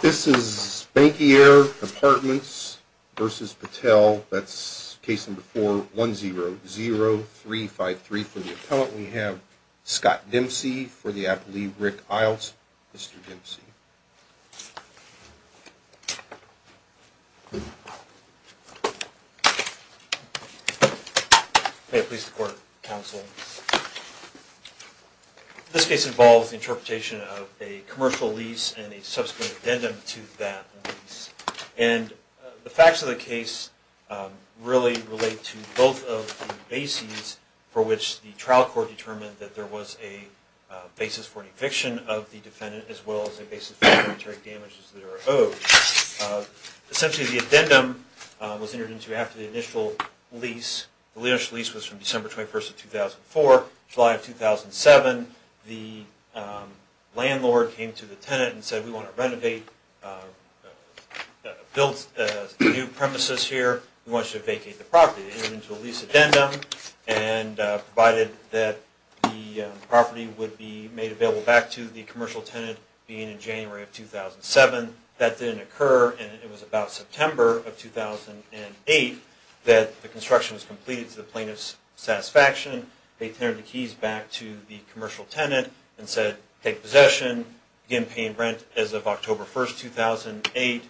This is Bankier Apartments v. Patel. That's case number 4-10-0353 for the appellant. We have Scott Dempsey for the appealee, Rick Iles. Mr. Dempsey. May it please the court, counsel. This case involves the interpretation of a commercial lease and a subsequent addendum to that lease. And the facts of the case really relate to both of the bases for which the trial court determined that there was a basis for an eviction of the defendant as well as a basis for the monetary damages that are owed. Essentially, the addendum was entered into after the initial lease. The initial lease was from December 21st of 2004. July of 2007, the landlord came to the tenant and said, we want to renovate, build new premises here. We want you to vacate the property. It entered into a lease addendum and provided that the property would be made available back to the commercial tenant being in January of 2007. That didn't occur and it was about September of 2008 that the construction was completed to the plaintiff's satisfaction. They turned the keys back to the commercial tenant and said, take possession. Began paying rent as of October 1st, 2008.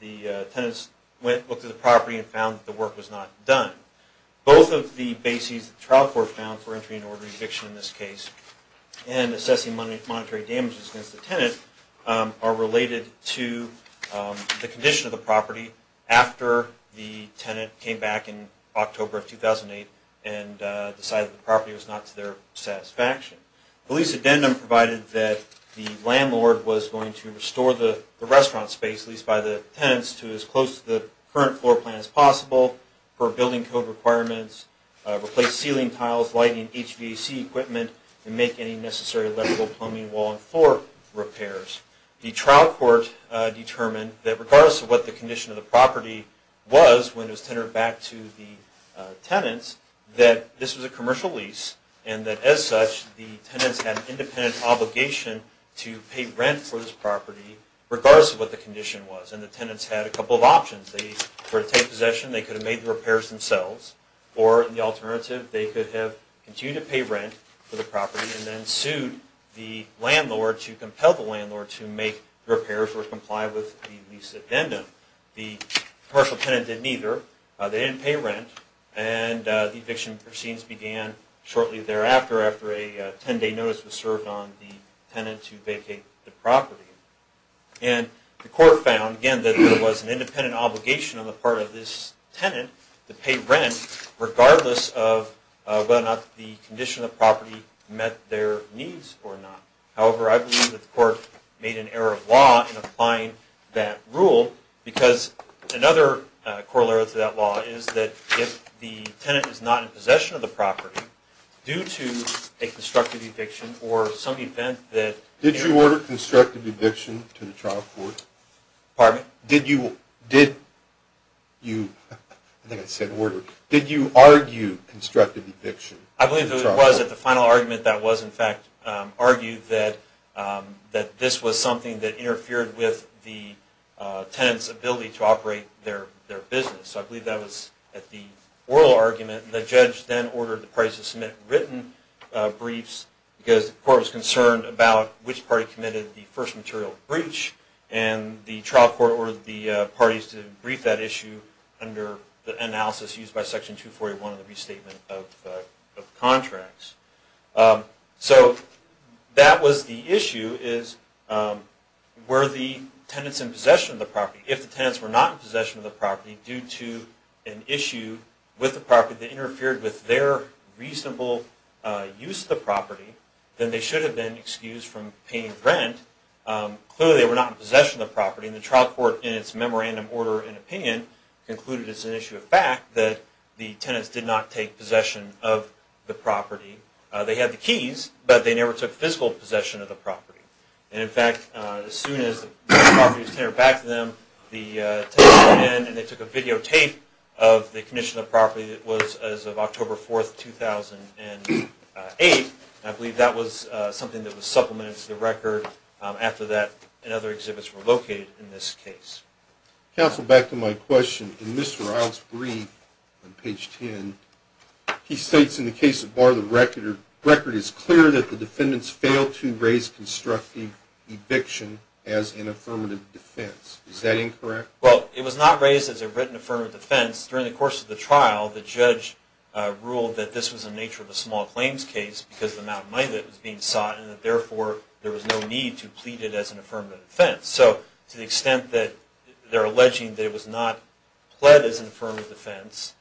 The tenants went, looked at the property and found that the work was not done. Both of the bases that the trial court found for entry and order eviction in this case and assessing monetary damages against the tenant are related to the condition of the property after the tenant came back in October of 2008 and decided the property was not to their satisfaction. The lease addendum provided that the landlord was going to restore the restaurant space, at least by the tenants, to as close to the current floor plan as possible for building code requirements, replace ceiling tiles, lighting, HVAC equipment and make any necessary electrical, plumbing, wall and floor repairs. The trial court determined that regardless of what the condition of the property was when it was tendered back to the tenants, that this was a commercial lease and that as such the tenants had an independent obligation to pay rent for this property regardless of what the condition was. And the tenants had a couple of options. They were to take possession, they could have made the repairs themselves, or the alternative, they could have continued to pay rent for the property and then sued the landlord to compel the landlord to make repairs or comply with the lease addendum. The commercial tenant did neither. They didn't pay rent and the eviction proceedings began shortly thereafter after a 10-day notice was served on the tenant to vacate the property. And the court found, again, that there was an independent obligation on the part of this tenant to pay rent regardless of whether or not the condition of the property met their needs or not. However, I believe that the court made an error of law in applying that rule because another corollary to that law is that if the tenant is not in possession of the property due to a constructive eviction or some event that... Did you order constructive eviction to the trial court? Pardon me? Did you argue constructive eviction to the trial court? I believe that it was at the final argument that was in fact argued that this was something that interfered with the oral argument and the judge then ordered the parties to submit written briefs because the court was concerned about which party committed the first material breach and the trial court ordered the parties to brief that issue under the analysis used by Section 241 of the Restatement of Contracts. So that was the issue is were the tenants in possession of the property? If the tenants were not in possession of the property due to an issue with the property that interfered with their reasonable use of the property, then they should have been excused from paying rent. Clearly, they were not in possession of the property and the trial court, in its memorandum order and opinion, concluded as an issue of fact that the tenants did not take possession of the property. They had the keys, but they never took physical possession of the property. In fact, as soon as the property was handed back to them, the tenants went in and they took a videotape of the condition of the property that was as of October 4, 2008. I believe that was something that was supplemented to the record after that and other exhibits were located in this case. Counsel, back to my question. In Mr. Ryle's brief on page 10, he states in the case of Bar the Record, it is clear that the defendants failed to raise constructive eviction as an affirmative defense. Is that incorrect? Well, it was not raised as a written affirmative defense. During the course of the trial, the judge ruled that this was in the nature of a small claims case because of the amount of money that was being sought and that, therefore, there was no need to plead it as an affirmative defense. So to the extent that they're alleging that it was not pled as an affirmative defense,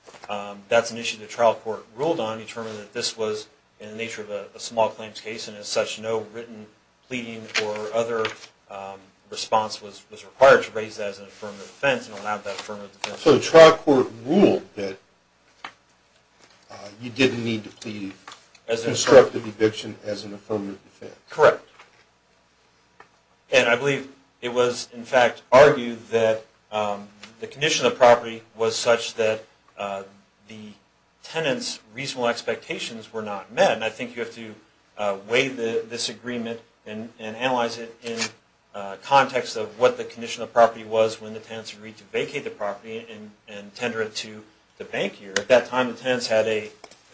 that's an issue the trial court ruled on, determined that this was in the nature of a small claims case and as such no written pleading or other response was required to raise that as an affirmative defense and allow that affirmative defense. So the trial court ruled that you didn't need to plead constructive eviction as an affirmative defense? Correct. And I believe it was in fact argued that the condition of the property was such that the tenant's reasonable expectations were not met. And I think you have to weigh this agreement and analyze it in context of what the condition of the property was when the tenants agreed to vacate the property and tender it to the bank here. At that time, the tenants had an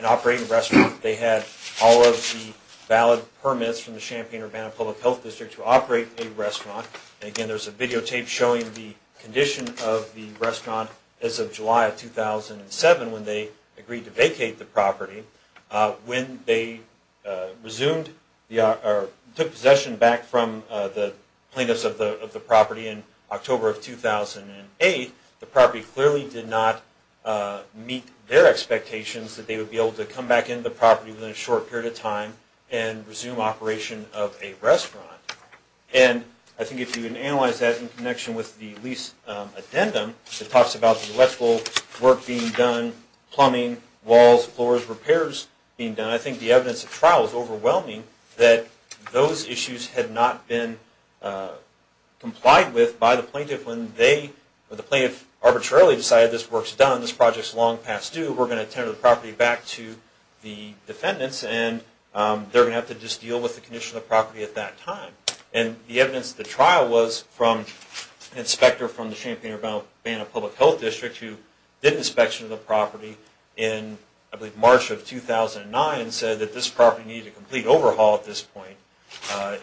operating restaurant. They had all of the valid permits from the Champaign-Urbana Public Health District to operate a restaurant. And again, there's a videotape showing the condition of the restaurant as of July of 2007 when they agreed to vacate the property. When they resumed or took possession back from the plaintiffs of the property in October of 2008, the property clearly did not meet their expectations that they would be able to come back into the property within a short period of time and resume operation of a restaurant. And I think if you can analyze that in connection with the lease addendum, it talks about the electrical work being done, plumbing, walls, floors, repairs being done. I think the evidence of trial is overwhelming that those issues had not been complied with by the plaintiff when the plaintiff arbitrarily decided this work is done, this project is long past due, we're going to tender the property back to the defendants and they're going to have to just deal with the condition of the property at that time. And the evidence of the trial was from an inspector from the Champaign-Urbana Public Health District who did inspection of the property in, I believe, March of 2009, and said that this property needed a complete overhaul at this point.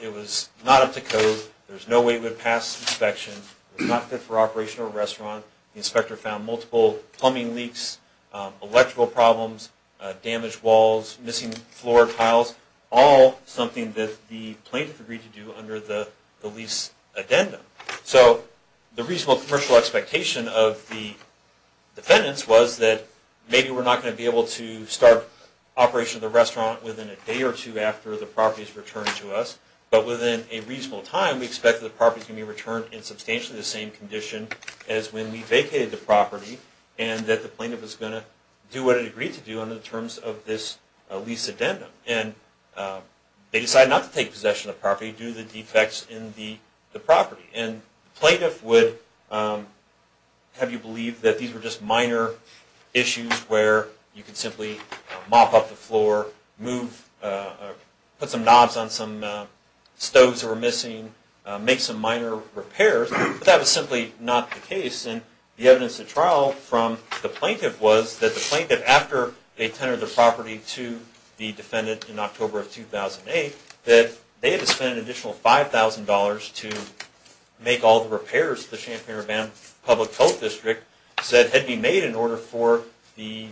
It was not up to code, there was no way it would pass inspection, it was not fit for operation of a restaurant, the inspector found multiple plumbing leaks, electrical problems, damaged walls, missing floor tiles, all something that the plaintiff agreed to do under the lease addendum. So the reasonable commercial expectation of the defendants was that maybe we're not going to be able to start operation of the restaurant within a day or two after the property is returned to us, but within a reasonable time we expect that the property is going to be returned in substantially the same condition as when we vacated the property and that the plaintiff is going to do what it agreed to do under the terms of this lease addendum. And they decided not to take possession of the property due to the defects in the property. And the plaintiff would have you believe that these were just minor issues where you could simply mop up the floor, put some knobs on some stoves that were missing, make some minor repairs, but that was simply not the case. And the evidence at trial from the plaintiff was that the plaintiff, after they tenured the property to the defendant in October of 2008, that they had to spend an additional $5,000 to make all the repairs to the Champaign-Urbana Public Health District that had to be made in order for the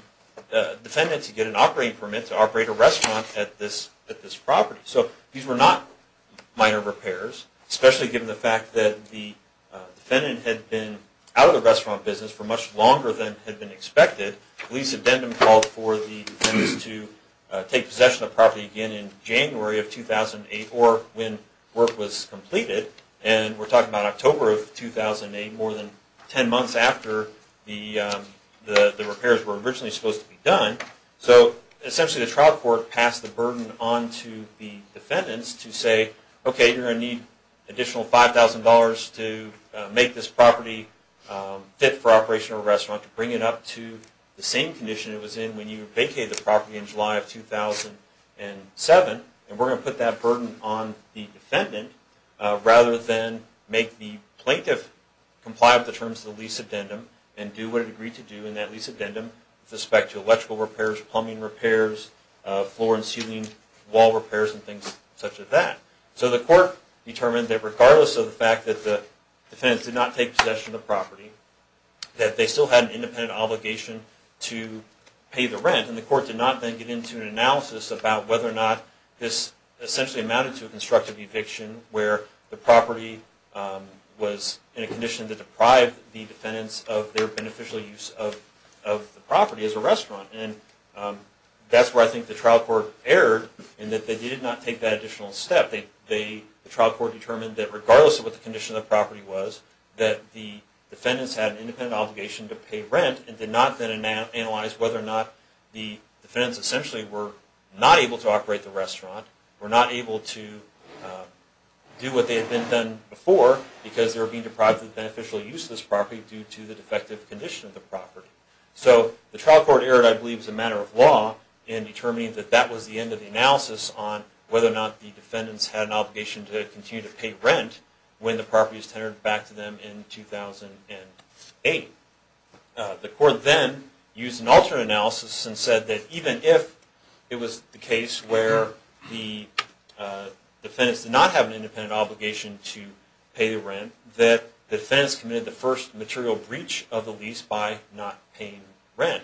defendant to get an operating permit to operate a restaurant at this property. So these were not minor repairs, especially given the fact that the defendant had been out of the restaurant business for much longer than had been expected. The lease addendum called for the defendants to take possession of the property again in January of 2008 or when work was completed. And we're talking about October of 2008, more than ten months after the repairs were originally supposed to be done. So essentially the trial court passed the burden on to the defendants to say, okay, you're going to need an additional $5,000 to make this property fit for operation of a restaurant, to bring it up to the same condition it was in when you vacated the property in July of 2007, and we're going to put that burden on the defendant rather than make the plaintiff comply with the terms of the lease addendum and do what it agreed to do in that lease addendum with respect to electrical repairs, plumbing repairs, floor and ceiling wall repairs and things such as that. So the court determined that regardless of the fact that the defendants did not take possession of the property, that they still had an independent obligation to pay the rent. And the court did not then get into an analysis about whether or not this essentially amounted to a constructive eviction where the property was in a condition to deprive the defendants of their beneficial use of the property as a restaurant. And that's where I think the trial court erred in that they did not take that additional step. The trial court determined that regardless of what the condition of the property was, that the defendants had an independent obligation to pay rent and did not then analyze whether or not the defendants essentially were not able to operate the restaurant, were not able to do what they had been done before because they were being deprived of the beneficial use of this property due to the defective condition of the property. So the trial court erred, I believe, as a matter of law in determining that that was the end of the analysis on whether or not the defendants had an obligation to continue to pay rent when the property was tendered back to them in 2008. The court then used an alternate analysis and said that even if it was the case where the defendants did not have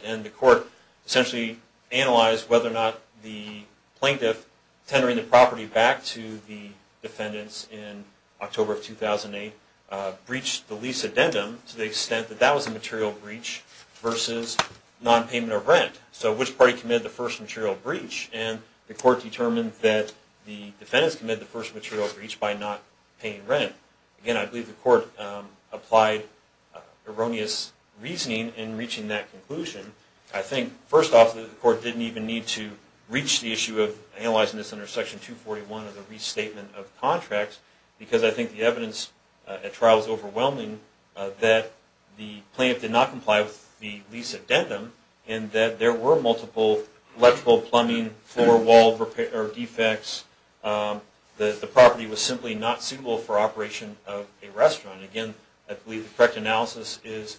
And the court essentially analyzed whether or not the plaintiff tendering the property back to the defendants in October of 2008 breached the lease addendum to the extent that that was a material breach versus non-payment of rent. So which party committed the first material breach? And the court determined that the defendants committed the first material breach by not paying rent. Again, I believe the court applied erroneous reasoning in reaching that conclusion. I think, first off, the court didn't even need to reach the issue of analyzing this under Section 241 of the Restatement of Contracts because I think the evidence at trial is overwhelming that the plaintiff did not comply with the lease addendum and that there were multiple electrical, plumbing, floor, wall defects. The property was simply not suitable for operation of a restaurant. Again, I believe the correct analysis is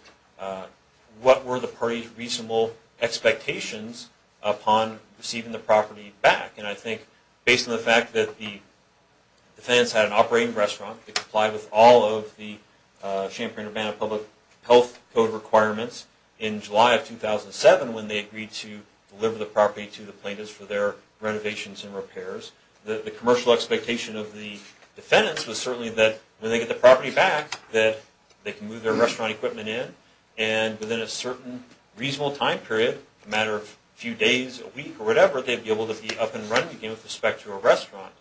what were the parties' reasonable expectations upon receiving the property back? And I think based on the fact that the defendants had an operating restaurant, they complied with all of the Champaign-Urbana Public Health Code requirements in July of 2007 when they agreed to deliver the property to the plaintiffs for their renovations and repairs. The commercial expectation of the defendants was certainly that when they get the property back, that they can move their restaurant equipment in, and within a certain reasonable time period, a matter of a few days, a week, or whatever, they'd be able to be up and running again with respect to a restaurant.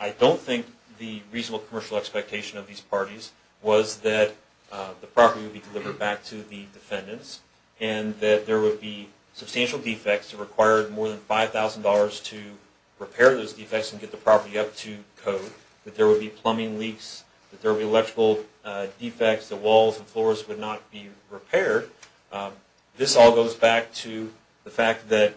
I don't think the reasonable commercial expectation of these parties was that the property would be delivered back to the defendants and that there would be substantial defects that required more than $5,000 to repair those defects and get the property up to code, that there would be plumbing leaks, that there would be electrical defects, that walls and floors would not be repaired. This all goes back to the fact that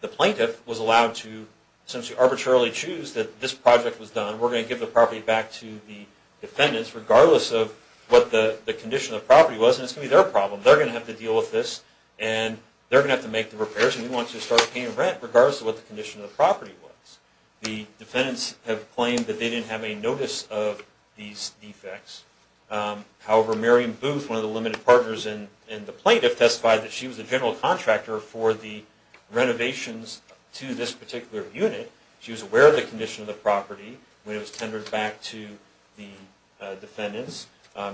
the plaintiff was allowed to essentially arbitrarily choose that this project was done. We're going to give the property back to the defendants regardless of what the condition of the property was, and it's going to be their problem. They're going to have to deal with this, and they're going to have to make the repairs, and we want to start paying rent regardless of what the condition of the property was. The defendants have claimed that they didn't have any notice of these defects. However, Mary Booth, one of the limited partners in the plaintiff, testified that she was the general contractor for the renovations to this particular unit. She was aware of the condition of the property when it was tendered back to the defendants.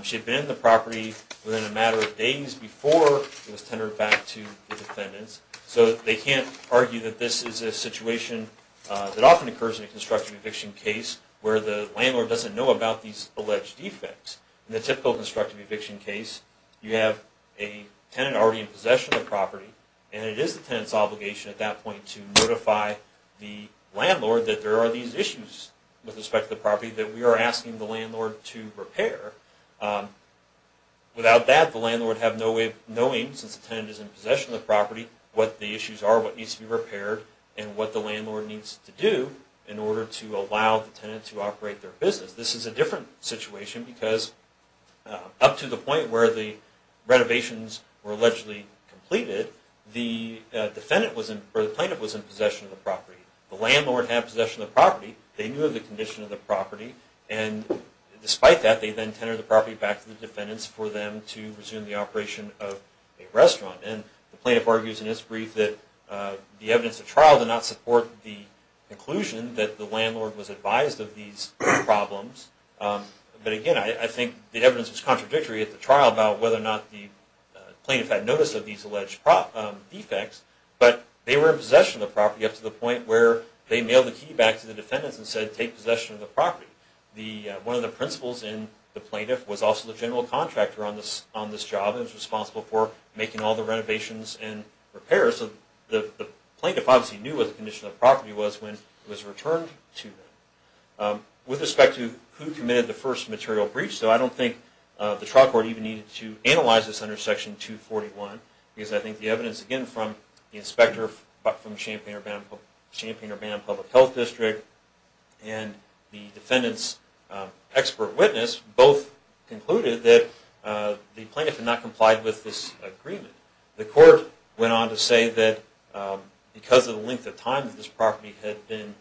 She had been in the property within a matter of days before it was tendered back to the defendants, so they can't argue that this is a situation that often occurs in a constructive eviction case where the landlord doesn't know about these alleged defects. In the typical constructive eviction case, you have a tenant already in possession of the property, and it is the tenant's obligation at that point to notify the landlord that there are these issues with respect to the property that we are asking the landlord to repair. Without that, the landlord has no way of knowing, since the tenant is in possession of the property, what the issues are, what needs to be repaired, and what the landlord needs to do in order to allow the tenant to operate their business. This is a different situation because up to the point where the renovations were allegedly completed, the plaintiff was in possession of the property. The landlord had possession of the property, they knew of the condition of the property, and despite that, they then tendered the property back to the defendants for them to resume the operation of a restaurant. The plaintiff argues in his brief that the evidence at trial did not support the conclusion that the landlord was advised of these problems. But again, I think the evidence was contradictory at the trial about whether or not the plaintiff had notice of these alleged defects, but they were in possession of the property up to the point where they mailed the key back to the defendants and said, take possession of the property. One of the principals in the plaintiff was also the general contractor on this job and was responsible for making all the renovations and repairs, so the plaintiff obviously knew what the condition of the property was when it was returned to them. With respect to who committed the first material breach, I don't think the trial court even needed to analyze this under Section 241, because I think the evidence, again, from the inspector from the Champaign-Urbana Public Health District and the defendant's expert witness both concluded that the plaintiff had not complied with this agreement. The court went on to say that because of the length of time that this property had been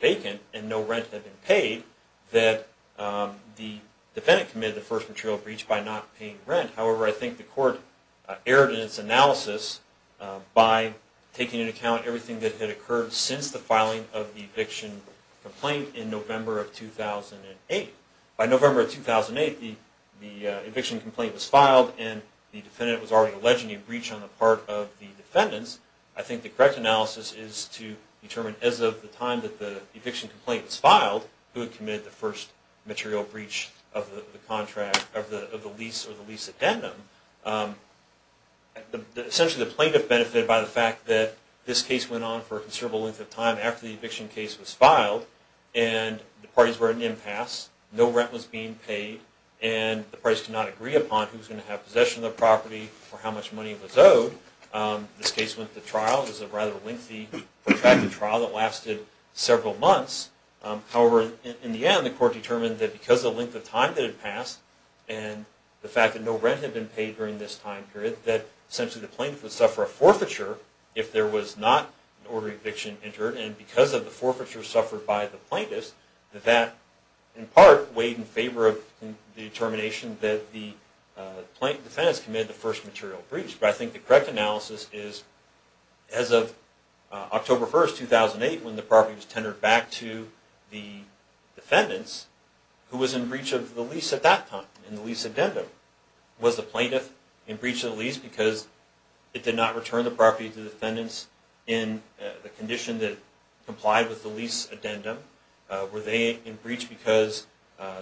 vacant and no rent had been paid, that the defendant committed the first material breach by not paying rent. However, I think the court erred in its analysis by taking into account everything that had occurred since the filing of the eviction complaint in November of 2008. By November of 2008, the eviction complaint was filed and the defendant was already alleging a breach on the part of the defendants. I think the correct analysis is to determine as of the time that the eviction complaint was filed, who had committed the first material breach of the lease or the lease addendum. Essentially, the plaintiff benefited by the fact that this case went on for a considerable length of time after the eviction case was filed and the parties were at an impasse, no rent was being paid, and the parties could not agree upon who was going to have possession of the property or how much money was owed. This case went to trial. It was a rather lengthy, protracted trial that lasted several months. However, in the end, the court determined that because of the length of time that had passed and the fact that no rent had been paid during this time period, that essentially the plaintiff would suffer a forfeiture if there was not an order of eviction entered. And because of the forfeiture suffered by the plaintiffs, that in part weighed in favor of the determination that the defendant has committed the first material breach. But I think the correct analysis is, as of October 1st, 2008, when the property was tendered back to the defendants, who was in breach of the lease at that time, in the lease addendum? Was the plaintiff in breach of the lease because it did not return the property to the defendants in the condition that complied with the lease addendum? Were they in breach because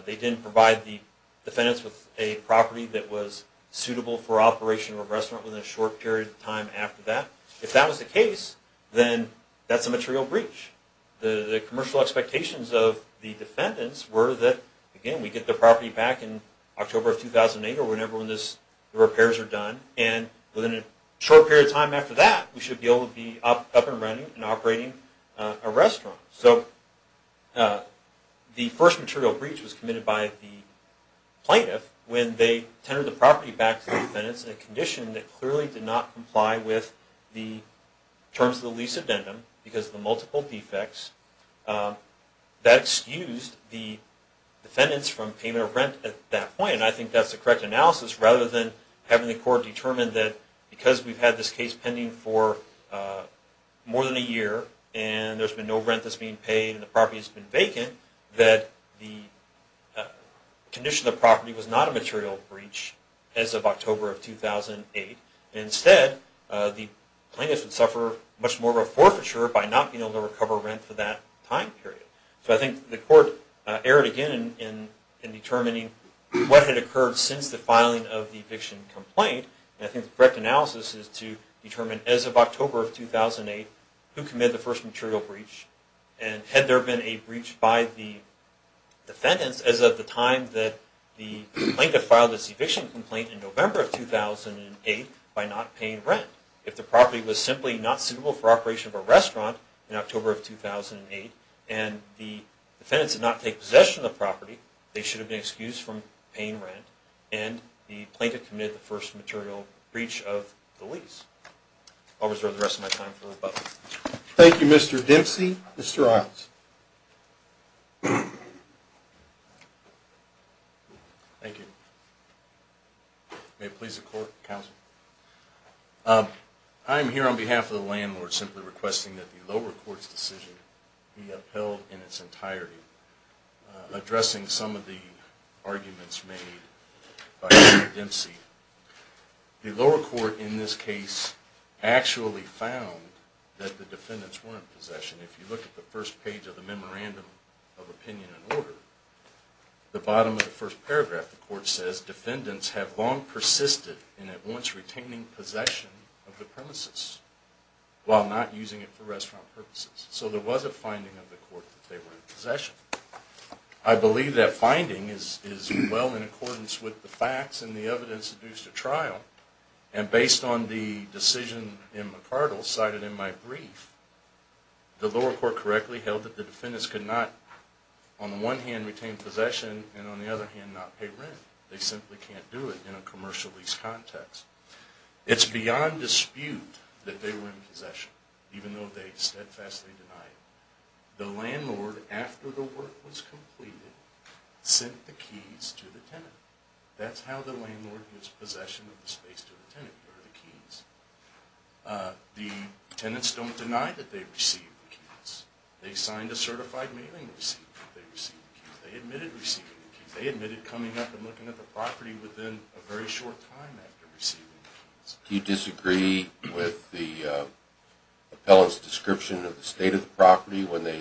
they didn't provide the defendants with a property that was suitable for operation of a restaurant within a short period of time after that? If that was the case, then that's a material breach. The commercial expectations of the defendants were that, again, we get the property back in October of 2008 or whenever the repairs are done, and within a short period of time after that, we should be able to be up and running and operating a restaurant. So the first material breach was committed by the plaintiff when they tendered the property back to the defendants in a condition that clearly did not comply with the terms of the lease addendum because of the multiple defects. That excused the defendants from payment of rent at that point, and I think that's the correct analysis rather than having the court determine that because we've had this case pending for more than a year and there's been no rent that's being paid and the property has been vacant, that the condition of the property was not a material breach as of October of 2008. Instead, the plaintiff would suffer much more of a forfeiture by not being able to recover rent for that time period. So I think the court erred again in determining what had occurred since the filing of the eviction complaint, and I think the correct analysis is to determine as of October of 2008 who committed the first material breach, and had there been a breach by the defendants as of the time that the plaintiff filed this eviction complaint in November of 2008 by not paying rent. If the property was simply not suitable for operation of a restaurant in October of 2008 and the defendants did not take possession of the property, they should have been excused from paying rent and the plaintiff committed the first material breach of the lease. I'll reserve the rest of my time for rebuttal. Thank you, Mr. Dempsey. Mr. Riles. Thank you. May it please the court, counsel. I'm here on behalf of the landlord simply requesting that the lower court's decision be upheld in its entirety, addressing some of the arguments made by Mr. Dempsey. The lower court in this case actually found that the defendants were in possession. If you look at the first page of the Memorandum of Opinion and Order, the bottom of the first paragraph, the court says, defendants have long persisted in at once retaining possession of the premises while not using it for restaurant purposes. So there was a finding of the court that they were in possession. I believe that finding is well in accordance with the facts and the evidence that produced a trial, and based on the decision in McCardle cited in my brief, the lower court correctly held that the defendants could not, on the one hand, retain possession, and on the other hand, not pay rent. They simply can't do it in a commercial lease context. It's beyond dispute that they were in possession, even though they steadfastly denied it. The landlord, after the work was completed, sent the keys to the tenant. That's how the landlord gives possession of the space to the tenant, through the keys. The tenants don't deny that they received the keys. They signed a certified mailing receipt that they received the keys. They admitted receiving the keys. They admitted coming up and looking at the property within a very short time after receiving the keys. Do you disagree with the appellant's description of the state of the property when they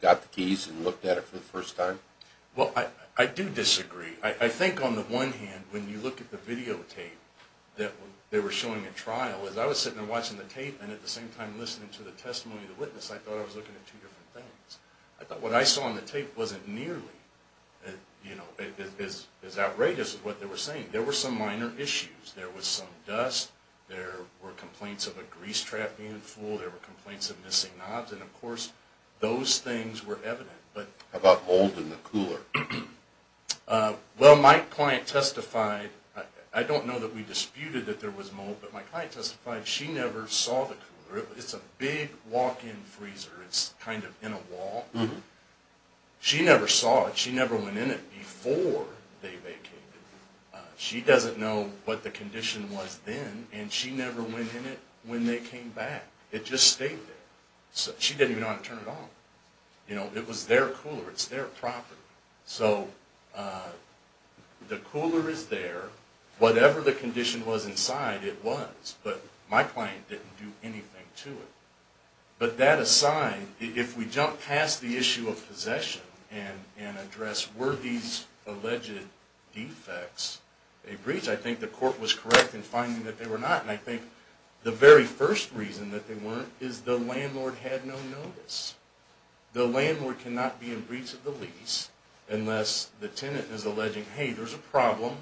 got the keys and looked at it for the first time? Well, I do disagree. I think on the one hand, when you look at the videotape that they were showing at trial, as I was sitting there watching the tape and at the same time listening to the testimony of the witness, I thought I was looking at two different things. I thought what I saw on the tape wasn't nearly as outrageous as what they were saying. There were some minor issues. There was some dust. There were complaints of a grease trap being full. There were complaints of missing knobs. And, of course, those things were evident. How about mold in the cooler? Well, my client testified. I don't know that we disputed that there was mold, but my client testified she never saw the cooler. It's a big walk-in freezer. It's kind of in a wall. She never saw it. She never went in it before they vacated. She doesn't know what the condition was then, and she never went in it when they came back. It just stayed there. She didn't even know how to turn it on. It was their cooler. It's their property. So the cooler is there. Whatever the condition was inside, it was. But my client didn't do anything to it. But that aside, if we jump past the issue of possession and address were these alleged defects a breach, I think the court was correct in finding that they were not. And I think the very first reason that they weren't is the landlord had no notice. The landlord cannot be in breach of the lease unless the tenant is alleging, hey, there's a problem,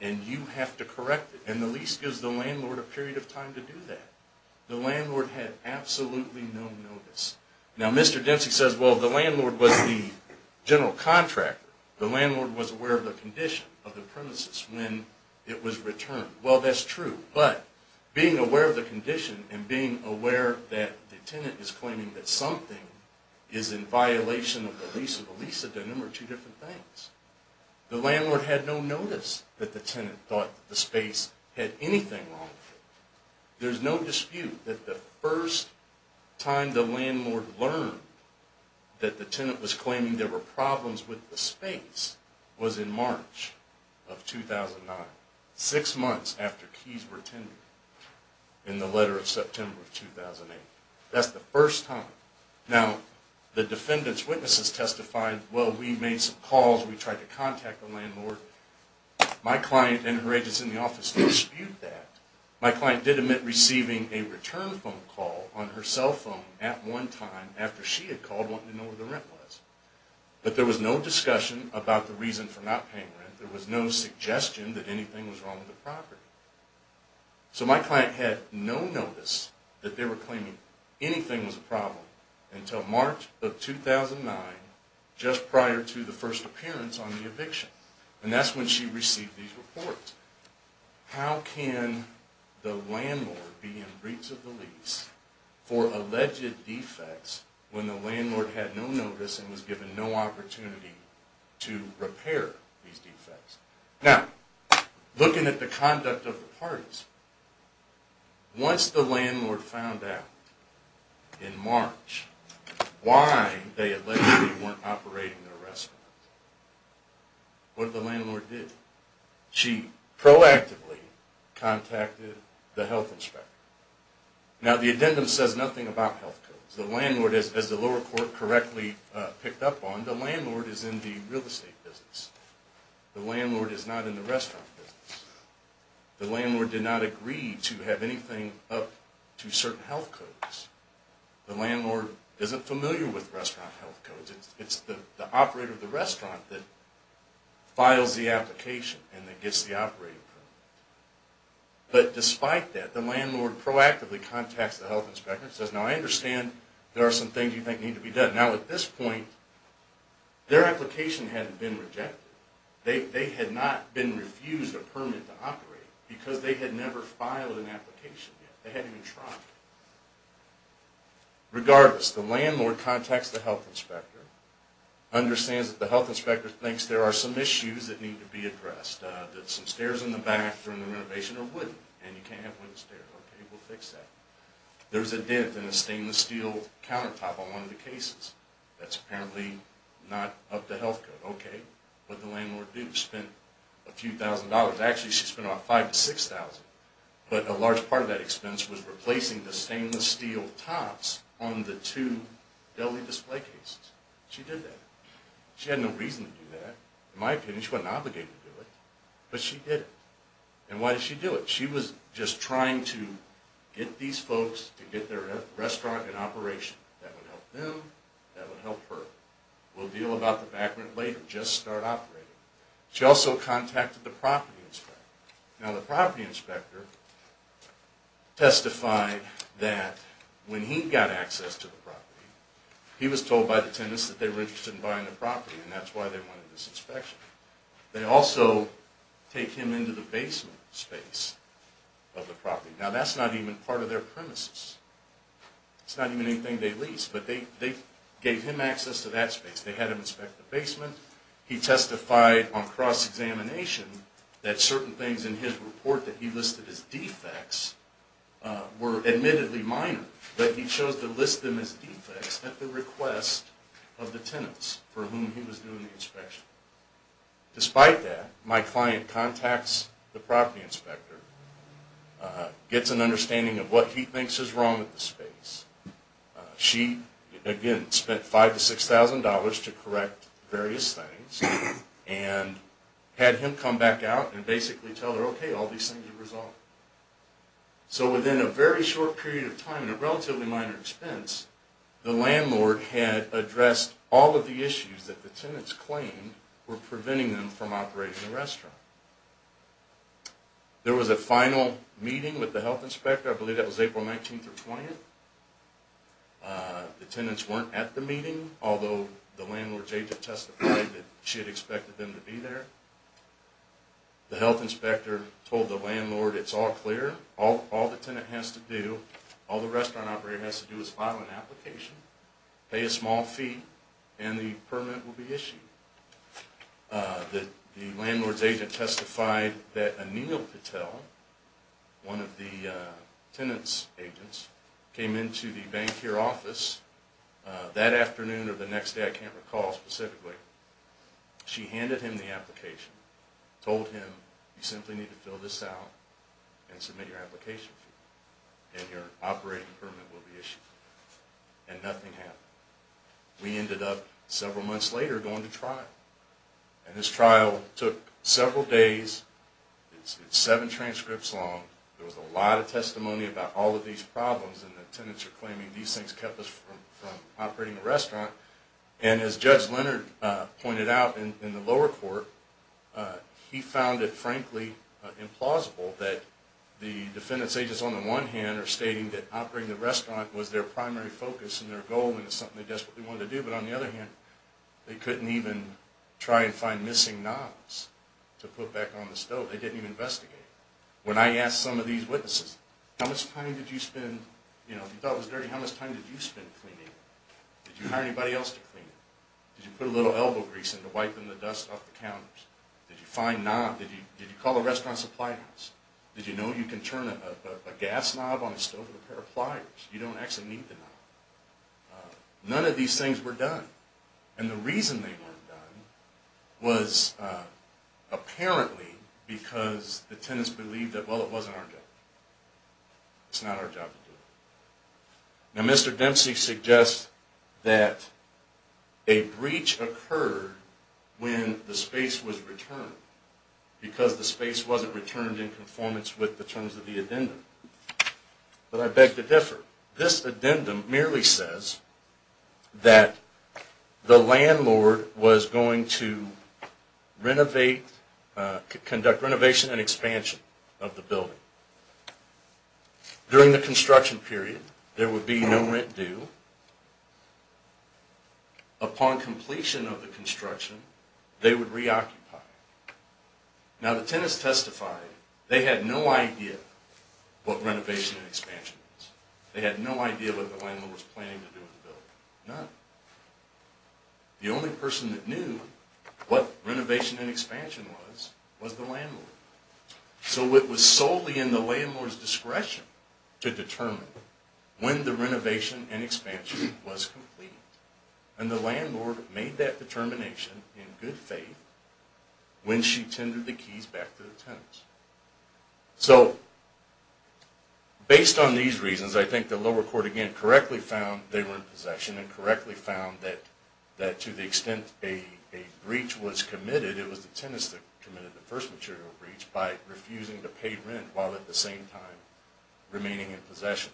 and you have to correct it. And the lease gives the landlord a period of time to do that. The landlord had absolutely no notice. Now, Mr. Dempsey says, well, the landlord was the general contractor. The landlord was aware of the condition of the premises when it was returned. Well, that's true. But being aware of the condition and being aware that the tenant is claiming that something is in violation of the lease or the lease of the number of two different things, the landlord had no notice that the tenant thought that the space had anything wrong with it. There's no dispute that the first time the landlord learned that the tenant was claiming there were problems with the space was in March of 2009, six months after keys were tendered in the letter of September of 2008. That's the first time. Now, the defendant's witnesses testified, well, we made some calls. We tried to contact the landlord. My client and her agents in the office dispute that. My client did admit receiving a return phone call on her cell phone at one time after she had called wanting to know where the rent was. But there was no discussion about the reason for not paying rent. There was no suggestion that anything was wrong with the property. So my client had no notice that they were claiming anything was a problem until March of 2009, just prior to the first appearance on the eviction. And that's when she received these reports. How can the landlord be in breach of the lease for alleged defects when the landlord had no notice and was given no opportunity to repair these defects? Now, looking at the conduct of the parties, once the landlord found out in March why they allegedly weren't operating their restaurant, what did the landlord do? She proactively contacted the health inspector. Now, the addendum says nothing about health codes. The landlord, as the lower court correctly picked up on, the landlord is in the real estate business. The landlord is not in the restaurant business. The landlord did not agree to have anything up to certain health codes. The landlord isn't familiar with restaurant health codes. It's the operator of the restaurant that files the application and gets the operating permit. But despite that, the landlord proactively contacts the health inspector and says, Now, I understand there are some things you think need to be done. Now, at this point, their application hadn't been rejected. They had not been refused a permit to operate because they had never filed an application yet. They hadn't even tried. Regardless, the landlord contacts the health inspector, understands that the health inspector thinks there are some issues that need to be addressed, that some stairs in the back during the renovation are wooden and you can't have wooden stairs. Okay, we'll fix that. There's a dent in a stainless steel countertop on one of the cases that's apparently not up to health code. Okay, what did the landlord do? She spent a few thousand dollars. Actually, she spent about $5,000 to $6,000. But a large part of that expense was replacing the stainless steel tops on the two deli display cases. She did that. She had no reason to do that. In my opinion, she wasn't obligated to do it. But she did it. And why did she do it? She was just trying to get these folks to get their restaurant in operation. That would help them. That would help her. We'll deal about the background later. Just start operating. She also contacted the property inspector. Now, the property inspector testified that when he got access to the property, he was told by the tenants that they were interested in buying the property, and that's why they wanted this inspection. They also take him into the basement space of the property. Now, that's not even part of their premises. It's not even anything they lease. They had him inspect the basement. He testified on cross-examination that certain things in his report that he listed as defects were admittedly minor, but he chose to list them as defects at the request of the tenants for whom he was doing the inspection. Despite that, my client contacts the property inspector, gets an understanding of what he thinks is wrong with the space. She, again, spent $5,000 to $6,000 to correct various things and had him come back out and basically tell her, okay, all these things are resolved. So within a very short period of time and a relatively minor expense, the landlord had addressed all of the issues that the tenants claimed were preventing them from operating the restaurant. There was a final meeting with the health inspector. I believe that was April 19th through 20th. The tenants weren't at the meeting, although the landlord's agent testified that she had expected them to be there. The health inspector told the landlord, it's all clear. All the tenant has to do, all the restaurant operator has to do is file an application, pay a small fee, and the permit will be issued. The landlord's agent testified that Anil Patel, one of the tenant's agents, came into the bank here office that afternoon or the next day, I can't recall specifically. She handed him the application, told him, you simply need to fill this out and submit your application. And your operating permit will be issued. And nothing happened. We ended up several months later going to trial. And this trial took several days. It's seven transcripts long. There was a lot of testimony about all of these problems. And the tenants are claiming these things kept us from operating the restaurant. And as Judge Leonard pointed out in the lower court, he found it frankly implausible that the defendant's agents on the one hand are stating that operating the restaurant was their primary focus and their goal and it's something they desperately wanted to do. But on the other hand, they couldn't even try and find missing knobs to put back on the stove. They didn't even investigate. When I asked some of these witnesses, how much time did you spend, you know, if you thought it was dirty, how much time did you spend cleaning it? Did you hire anybody else to clean it? Did you put a little elbow grease in to wipe the dust off the counters? Did you find knobs? Did you call the restaurant supply house? Did you know you can turn a gas knob on a stove with a pair of pliers? You don't actually need the knob. None of these things were done. And the reason they weren't done was apparently because the tenants believed that, well, it wasn't our job. It's not our job to do it. Now, Mr. Dempsey suggests that a breach occurred when the space was returned because the space wasn't returned in conformance with the terms of the addendum. But I beg to differ. This addendum merely says that the landlord was going to conduct renovation and expansion of the building. During the construction period, there would be no rent due. Upon completion of the construction, they would reoccupy. Now, the tenants testified they had no idea what renovation and expansion was. They had no idea what the landlord was planning to do with the building. None. The only person that knew what renovation and expansion was was the landlord. So it was solely in the landlord's discretion to determine when the renovation and expansion was completed. And the landlord made that determination in good faith when she tendered the keys back to the tenants. So based on these reasons, I think the lower court, again, correctly found they were in possession and correctly found that to the extent a breach was committed, it was the tenants that committed the first material breach by refusing to pay rent while at the same time remaining in possession.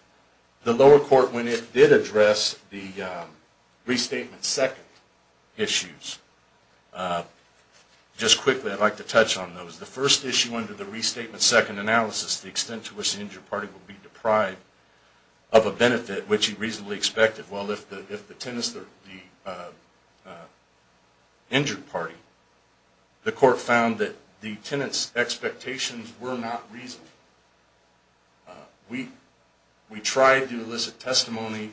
The lower court, when it did address the restatement second issues, just quickly I'd like to touch on those. The first issue under the restatement second analysis, the extent to which the injured party would be deprived of a benefit which he reasonably expected. Well, if the tenants are the injured party, the court found that the tenants' expectations were not reasonable. We tried to elicit testimony.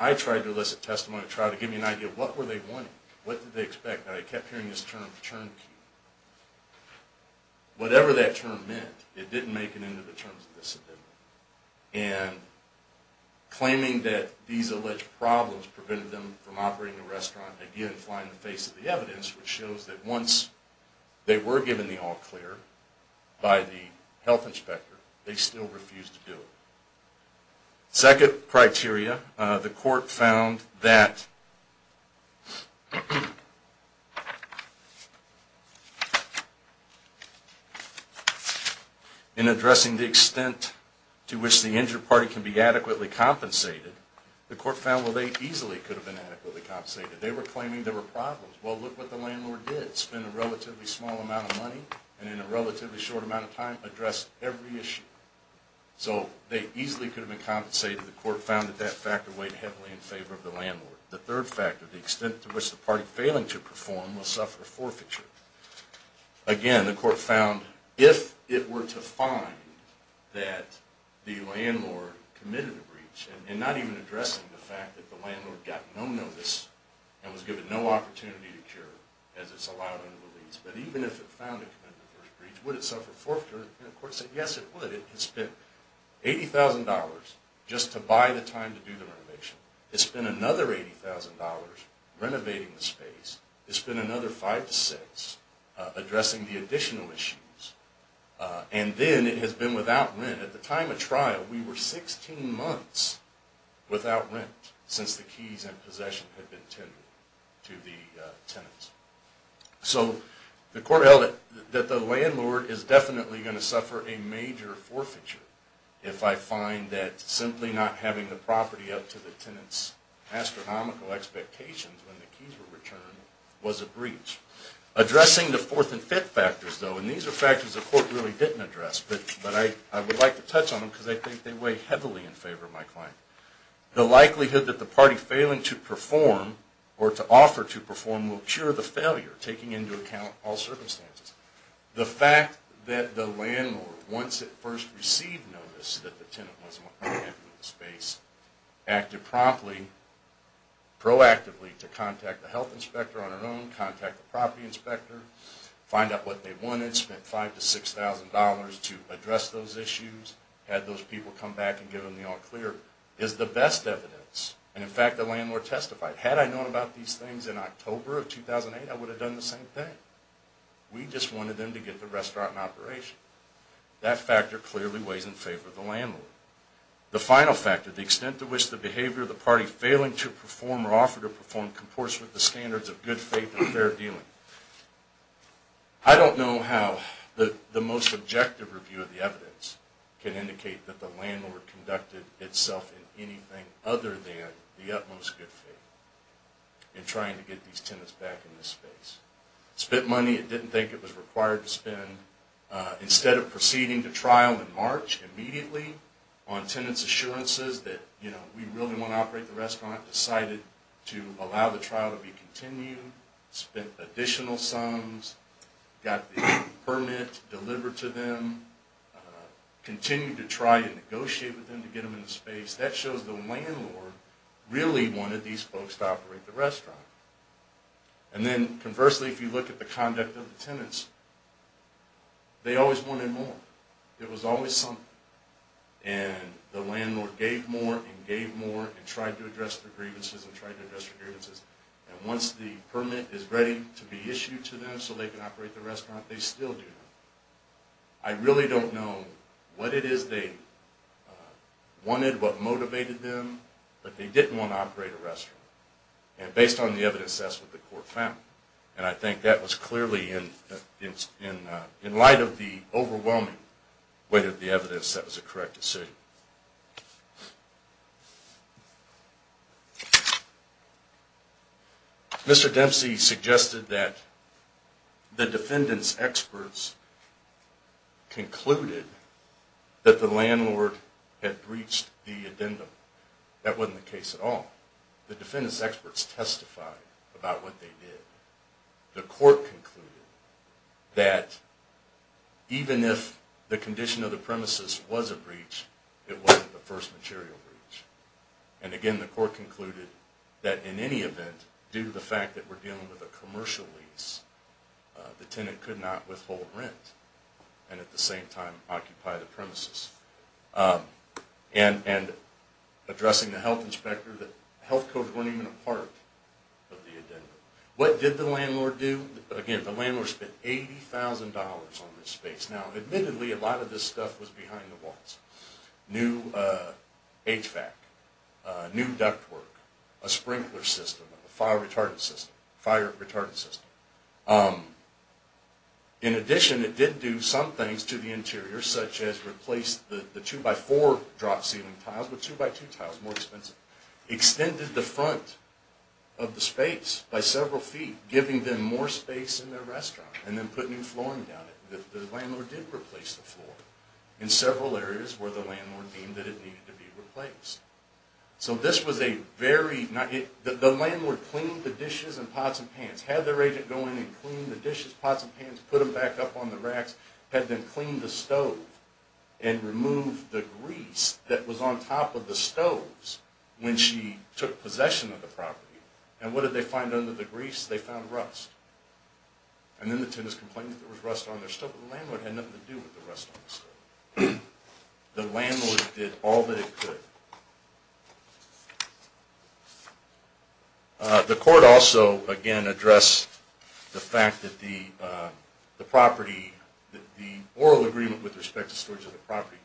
I tried to elicit testimony to try to give you an idea of what were they wanting, what did they expect. I kept hearing this term, turnkey. Whatever that term meant, it didn't make it into the terms of this amendment. And claiming that these alleged problems prevented them from operating the restaurant, again, flying in the face of the evidence, which shows that once they were given the all clear by the health inspector, they still refused to do it. Second criteria, the court found that in addressing the extent to which the injured party can be adequately compensated, the court found that they easily could have been adequately compensated. They were claiming there were problems. Well, look what the landlord did. He spent a relatively small amount of money and in a relatively short amount of time addressed every issue. So they easily could have been compensated. The court found that that factor weighed heavily in favor of the landlord. The third factor, the extent to which the party failing to perform will suffer forfeiture. Again, the court found if it were to find that the landlord committed a breach and not even addressing the fact that the landlord got no notice and was given no opportunity to cure as it's allowed under the lease, but even if it found it committed the first breach, would it suffer forfeiture? And the court said, yes, it would. It spent $80,000 just to buy the time to do the renovation. It spent another $80,000 renovating the space. It spent another five to six addressing the additional issues. And then it has been without rent. At the time of trial, we were 16 months without rent since the keys and the tenants. So the court held that the landlord is definitely going to suffer a major forfeiture if I find that simply not having the property up to the tenant's astronomical expectations when the keys were returned was a breach. Addressing the fourth and fifth factors, though, and these are factors the court really didn't address, but I would like to touch on them because I think they weigh heavily in favor of my client. The likelihood that the party failing to perform or to offer to perform will cure the failure, taking into account all circumstances. The fact that the landlord, once it first received notice that the tenant wasn't happy with the space, acted promptly, proactively to contact the health inspector on her own, contact the property inspector, find out what they wanted, spent $5,000 to $6,000 to address those issues, had those people come back and given the all-clear, is the best evidence. And in fact, the landlord testified, had I known about these things in October of 2008, I would have done the same thing. We just wanted them to get the restaurant in operation. That factor clearly weighs in favor of the landlord. The final factor, the extent to which the behavior of the party failing to perform or offer to perform comports with the standards of good faith and fair dealing. I don't know how the most objective review of the evidence can indicate that the landlord conducted itself in anything other than the utmost good faith in trying to get these tenants back in this space. Spent money it didn't think it was required to spend. Instead of proceeding to trial in March immediately on tenants' assurances that we really want to operate the restaurant, decided to allow the trial to be continued, spent additional sums, got the permit delivered to them, continued to try and negotiate with them to get them in the space. That shows the landlord really wanted these folks to operate the restaurant. And then conversely, if you look at the conduct of the tenants, they always wanted more. It was always something. And the landlord gave more and gave more and tried to address their grievances and tried to address their grievances. And once the permit is ready to be issued to them so they can operate the restaurant, they still do that. I really don't know what it is they wanted, what motivated them, but they didn't want to operate a restaurant. And based on the evidence that's what the court found. And I think that was clearly in light of the overwhelming weight of the evidence that was a correct decision. Mr. Dempsey suggested that the defendants' experts concluded that the landlord had breached the addendum. That wasn't the case at all. The defendants' experts testified about what they did. The court concluded that even if the condition of the premises was a breach, it wasn't the first material breach. And again, the court concluded that in any event, due to the fact that we're dealing with a commercial lease, the tenant could not withhold rent and at the same time occupy the premises. And addressing the health inspector, the health codes weren't even a part of the addendum. What did the landlord do? Again, the landlord spent $80,000 on this space. Now, admittedly, a lot of this stuff was behind the walls. New HVAC, new ductwork, a sprinkler system, a fire retardant system, fire retardant system. In addition, it did do some things to the interior, such as replace the 2x4 drop ceiling tiles with 2x2 tiles, more expensive. Extended the front of the space by several feet, giving them more space in their restaurant, and then put new flooring down it. The landlord did replace the floor in several areas where the landlord deemed that it needed to be replaced. So this was a very... The landlord cleaned the dishes and pots and pans, had their agent go in and clean the dishes, pots and pans, put them back up on the racks, had them clean the stove and remove the grease that was on top of the stoves when she took possession of the property. And what did they find under the grease? They found rust. And then the tenant's complaining that there was rust on their stove, but the landlord had nothing to do with the rust on the stove. The landlord did all that it could. The court also, again, addressed the fact that the property, the oral agreement with respect to storage of the property,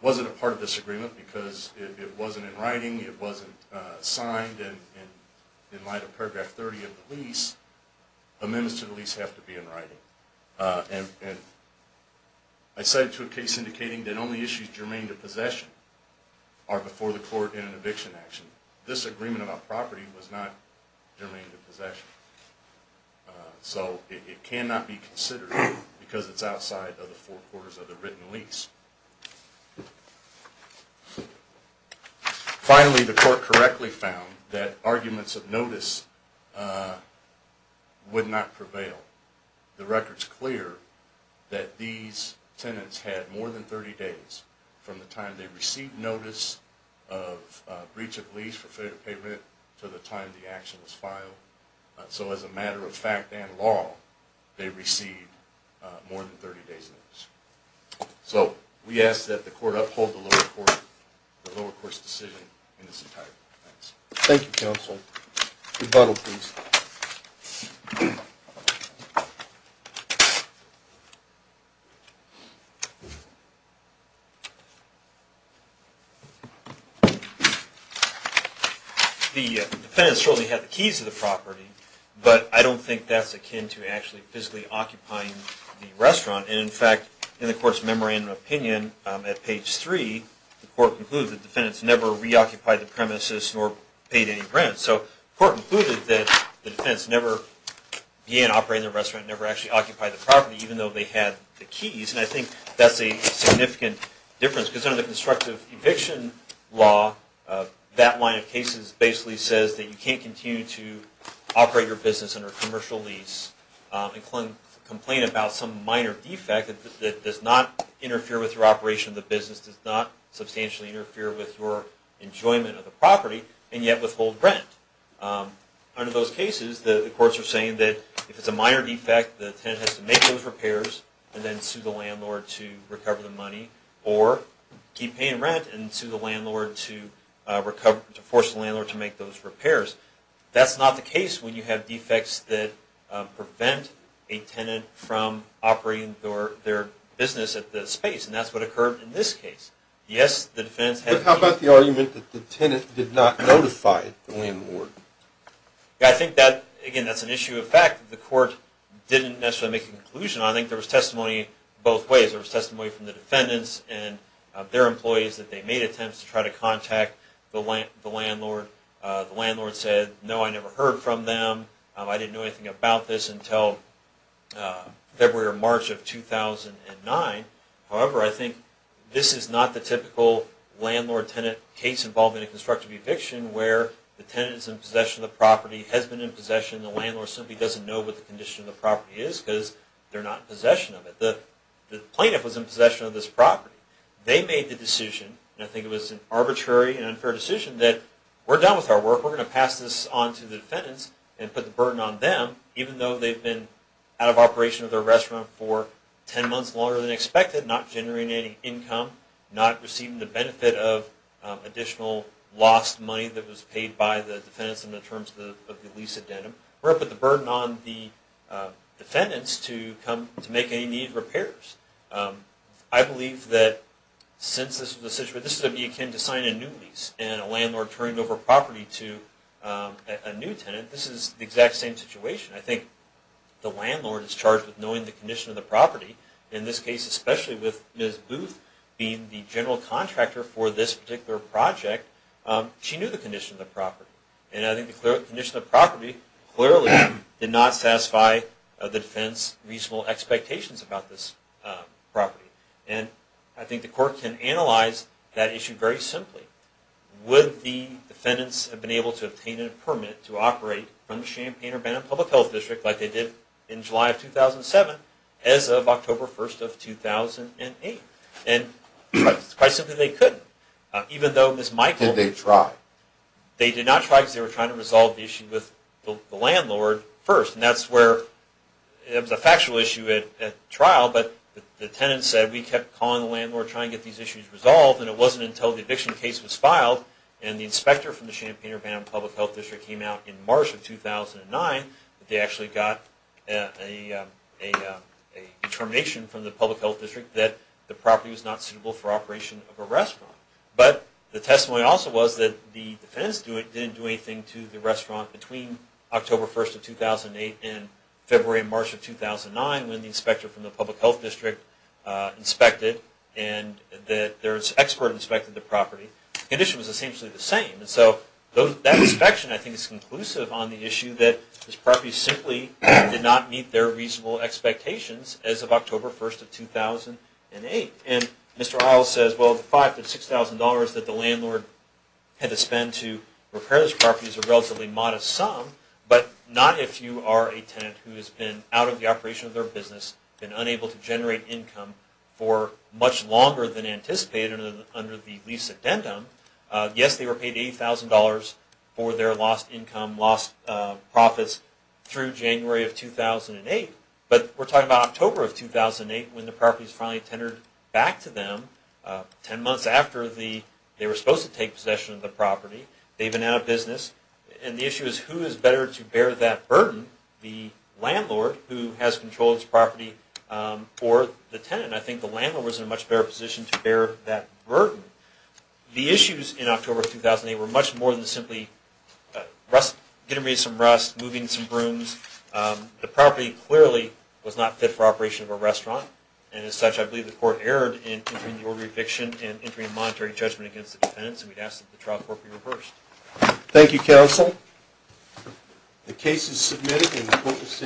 wasn't a part of this paragraph 30 of the lease. Amendments to the lease have to be in writing. And I cite it to a case indicating that only issues germane to possession are before the court in an eviction action. This agreement about property was not germane to possession. So it cannot be considered because it's outside of the four quarters of the written lease. Finally, the court correctly found that arguments of notice would not prevail. The record's clear that these tenants had more than 30 days from the time they received notice of breach of lease for failure to pay rent to the time the action was filed. So as a matter of fact and law, they received more than 30 days notice. So we ask that the court uphold the lower court's decision in this entire defense. Thank you, counsel. Rebuttal, please. The defendant certainly had the keys to the property, but I don't think that's akin to actually physically occupying the restaurant. And in fact, in the court's memorandum of opinion at page three, the court concluded that the defendants never reoccupied the premises nor paid any rent. So the court concluded that the defendants never began operating the restaurant, never actually occupied the property, even though they had the keys. And I think that's a significant difference. Because under the constructive eviction law, that line of cases basically says that you can't continue to operate your business under commercial lease and file a complaint about some minor defect that does not interfere with your operation of the business, does not substantially interfere with your enjoyment of the property, and yet withhold rent. Under those cases, the courts are saying that if it's a minor defect, the tenant has to make those repairs and then sue the landlord to recover the money or keep paying rent and sue the landlord to force the landlord to make those repairs. That's not the case when you have defects that prevent a tenant from operating their business at the space. And that's what occurred in this case. Yes, the defendants had keys. But how about the argument that the tenant did not notify the landlord? I think that, again, that's an issue of fact. The court didn't necessarily make a conclusion. I think there was testimony both ways. There was testimony from the defendants and their employees that they made The landlord said, no, I never heard from them. I didn't know anything about this until February or March of 2009. However, I think this is not the typical landlord-tenant case involving a constructive eviction where the tenant is in possession of the property, has been in possession, and the landlord simply doesn't know what the condition of the property is because they're not in possession of it. The plaintiff was in possession of this property. They made the decision, and I think it was an arbitrary and unfair decision, that we're done with our work. We're going to pass this on to the defendants and put the burden on them, even though they've been out of operation of their restaurant for ten months longer than expected, not generating any income, not receiving the benefit of additional lost money that was paid by the defendants in terms of the lease addendum. We're going to put the burden on the defendants to make any needed repairs. I believe that since this was the situation, that this would be akin to signing a new lease and a landlord turning over property to a new tenant. This is the exact same situation. I think the landlord is charged with knowing the condition of the property. In this case, especially with Ms. Booth being the general contractor for this particular project, she knew the condition of the property. And I think the condition of the property clearly did not satisfy the defense's reasonable expectations about this property. And I think the court can analyze that issue very simply. Would the defendants have been able to obtain a permit to operate from the Champaign-Urbana Public Health District like they did in July of 2007 as of October 1st of 2008? And quite simply, they couldn't, even though Ms. Michael... Did they try? They did not try because they were trying to resolve the issue with the landlord first. And that's where it was a factual issue at trial, but the tenant said we kept calling the landlord to try and get these issues resolved and it wasn't until the eviction case was filed and the inspector from the Champaign-Urbana Public Health District came out in March of 2009 that they actually got a determination from the Public Health District that the property was not suitable for operation of a restaurant. But the testimony also was that the defendants didn't do anything to the restaurant between October 1st of 2008 and February and March of 2009 when the inspector from the Public Health District inspected and their expert inspected the property. The condition was essentially the same. And so that inspection I think is conclusive on the issue that this property simply did not meet their reasonable expectations as of October 1st of 2008. And Mr. Iles says, well, the $5,000 to $6,000 that the landlord had to spend to repair this property is a relatively modest sum, but not if you are a business and unable to generate income for much longer than anticipated under the lease addendum. Yes, they were paid $80,000 for their lost income, lost profits through January of 2008. But we're talking about October of 2008 when the property was finally tendered back to them 10 months after they were supposed to take possession of the property. They've been out of business. And the issue is who is better to bear that burden, the landlord who has controlled this property or the tenant? I think the landlord was in a much better position to bear that burden. The issues in October of 2008 were much more than simply getting rid of some rust, moving some brooms. The property clearly was not fit for operation of a restaurant. And as such, I believe the court erred in entering the order of eviction and entering a monetary judgment against the defendants. And we'd ask that the trial court be reversed. Thank you, counsel. The case is submitted.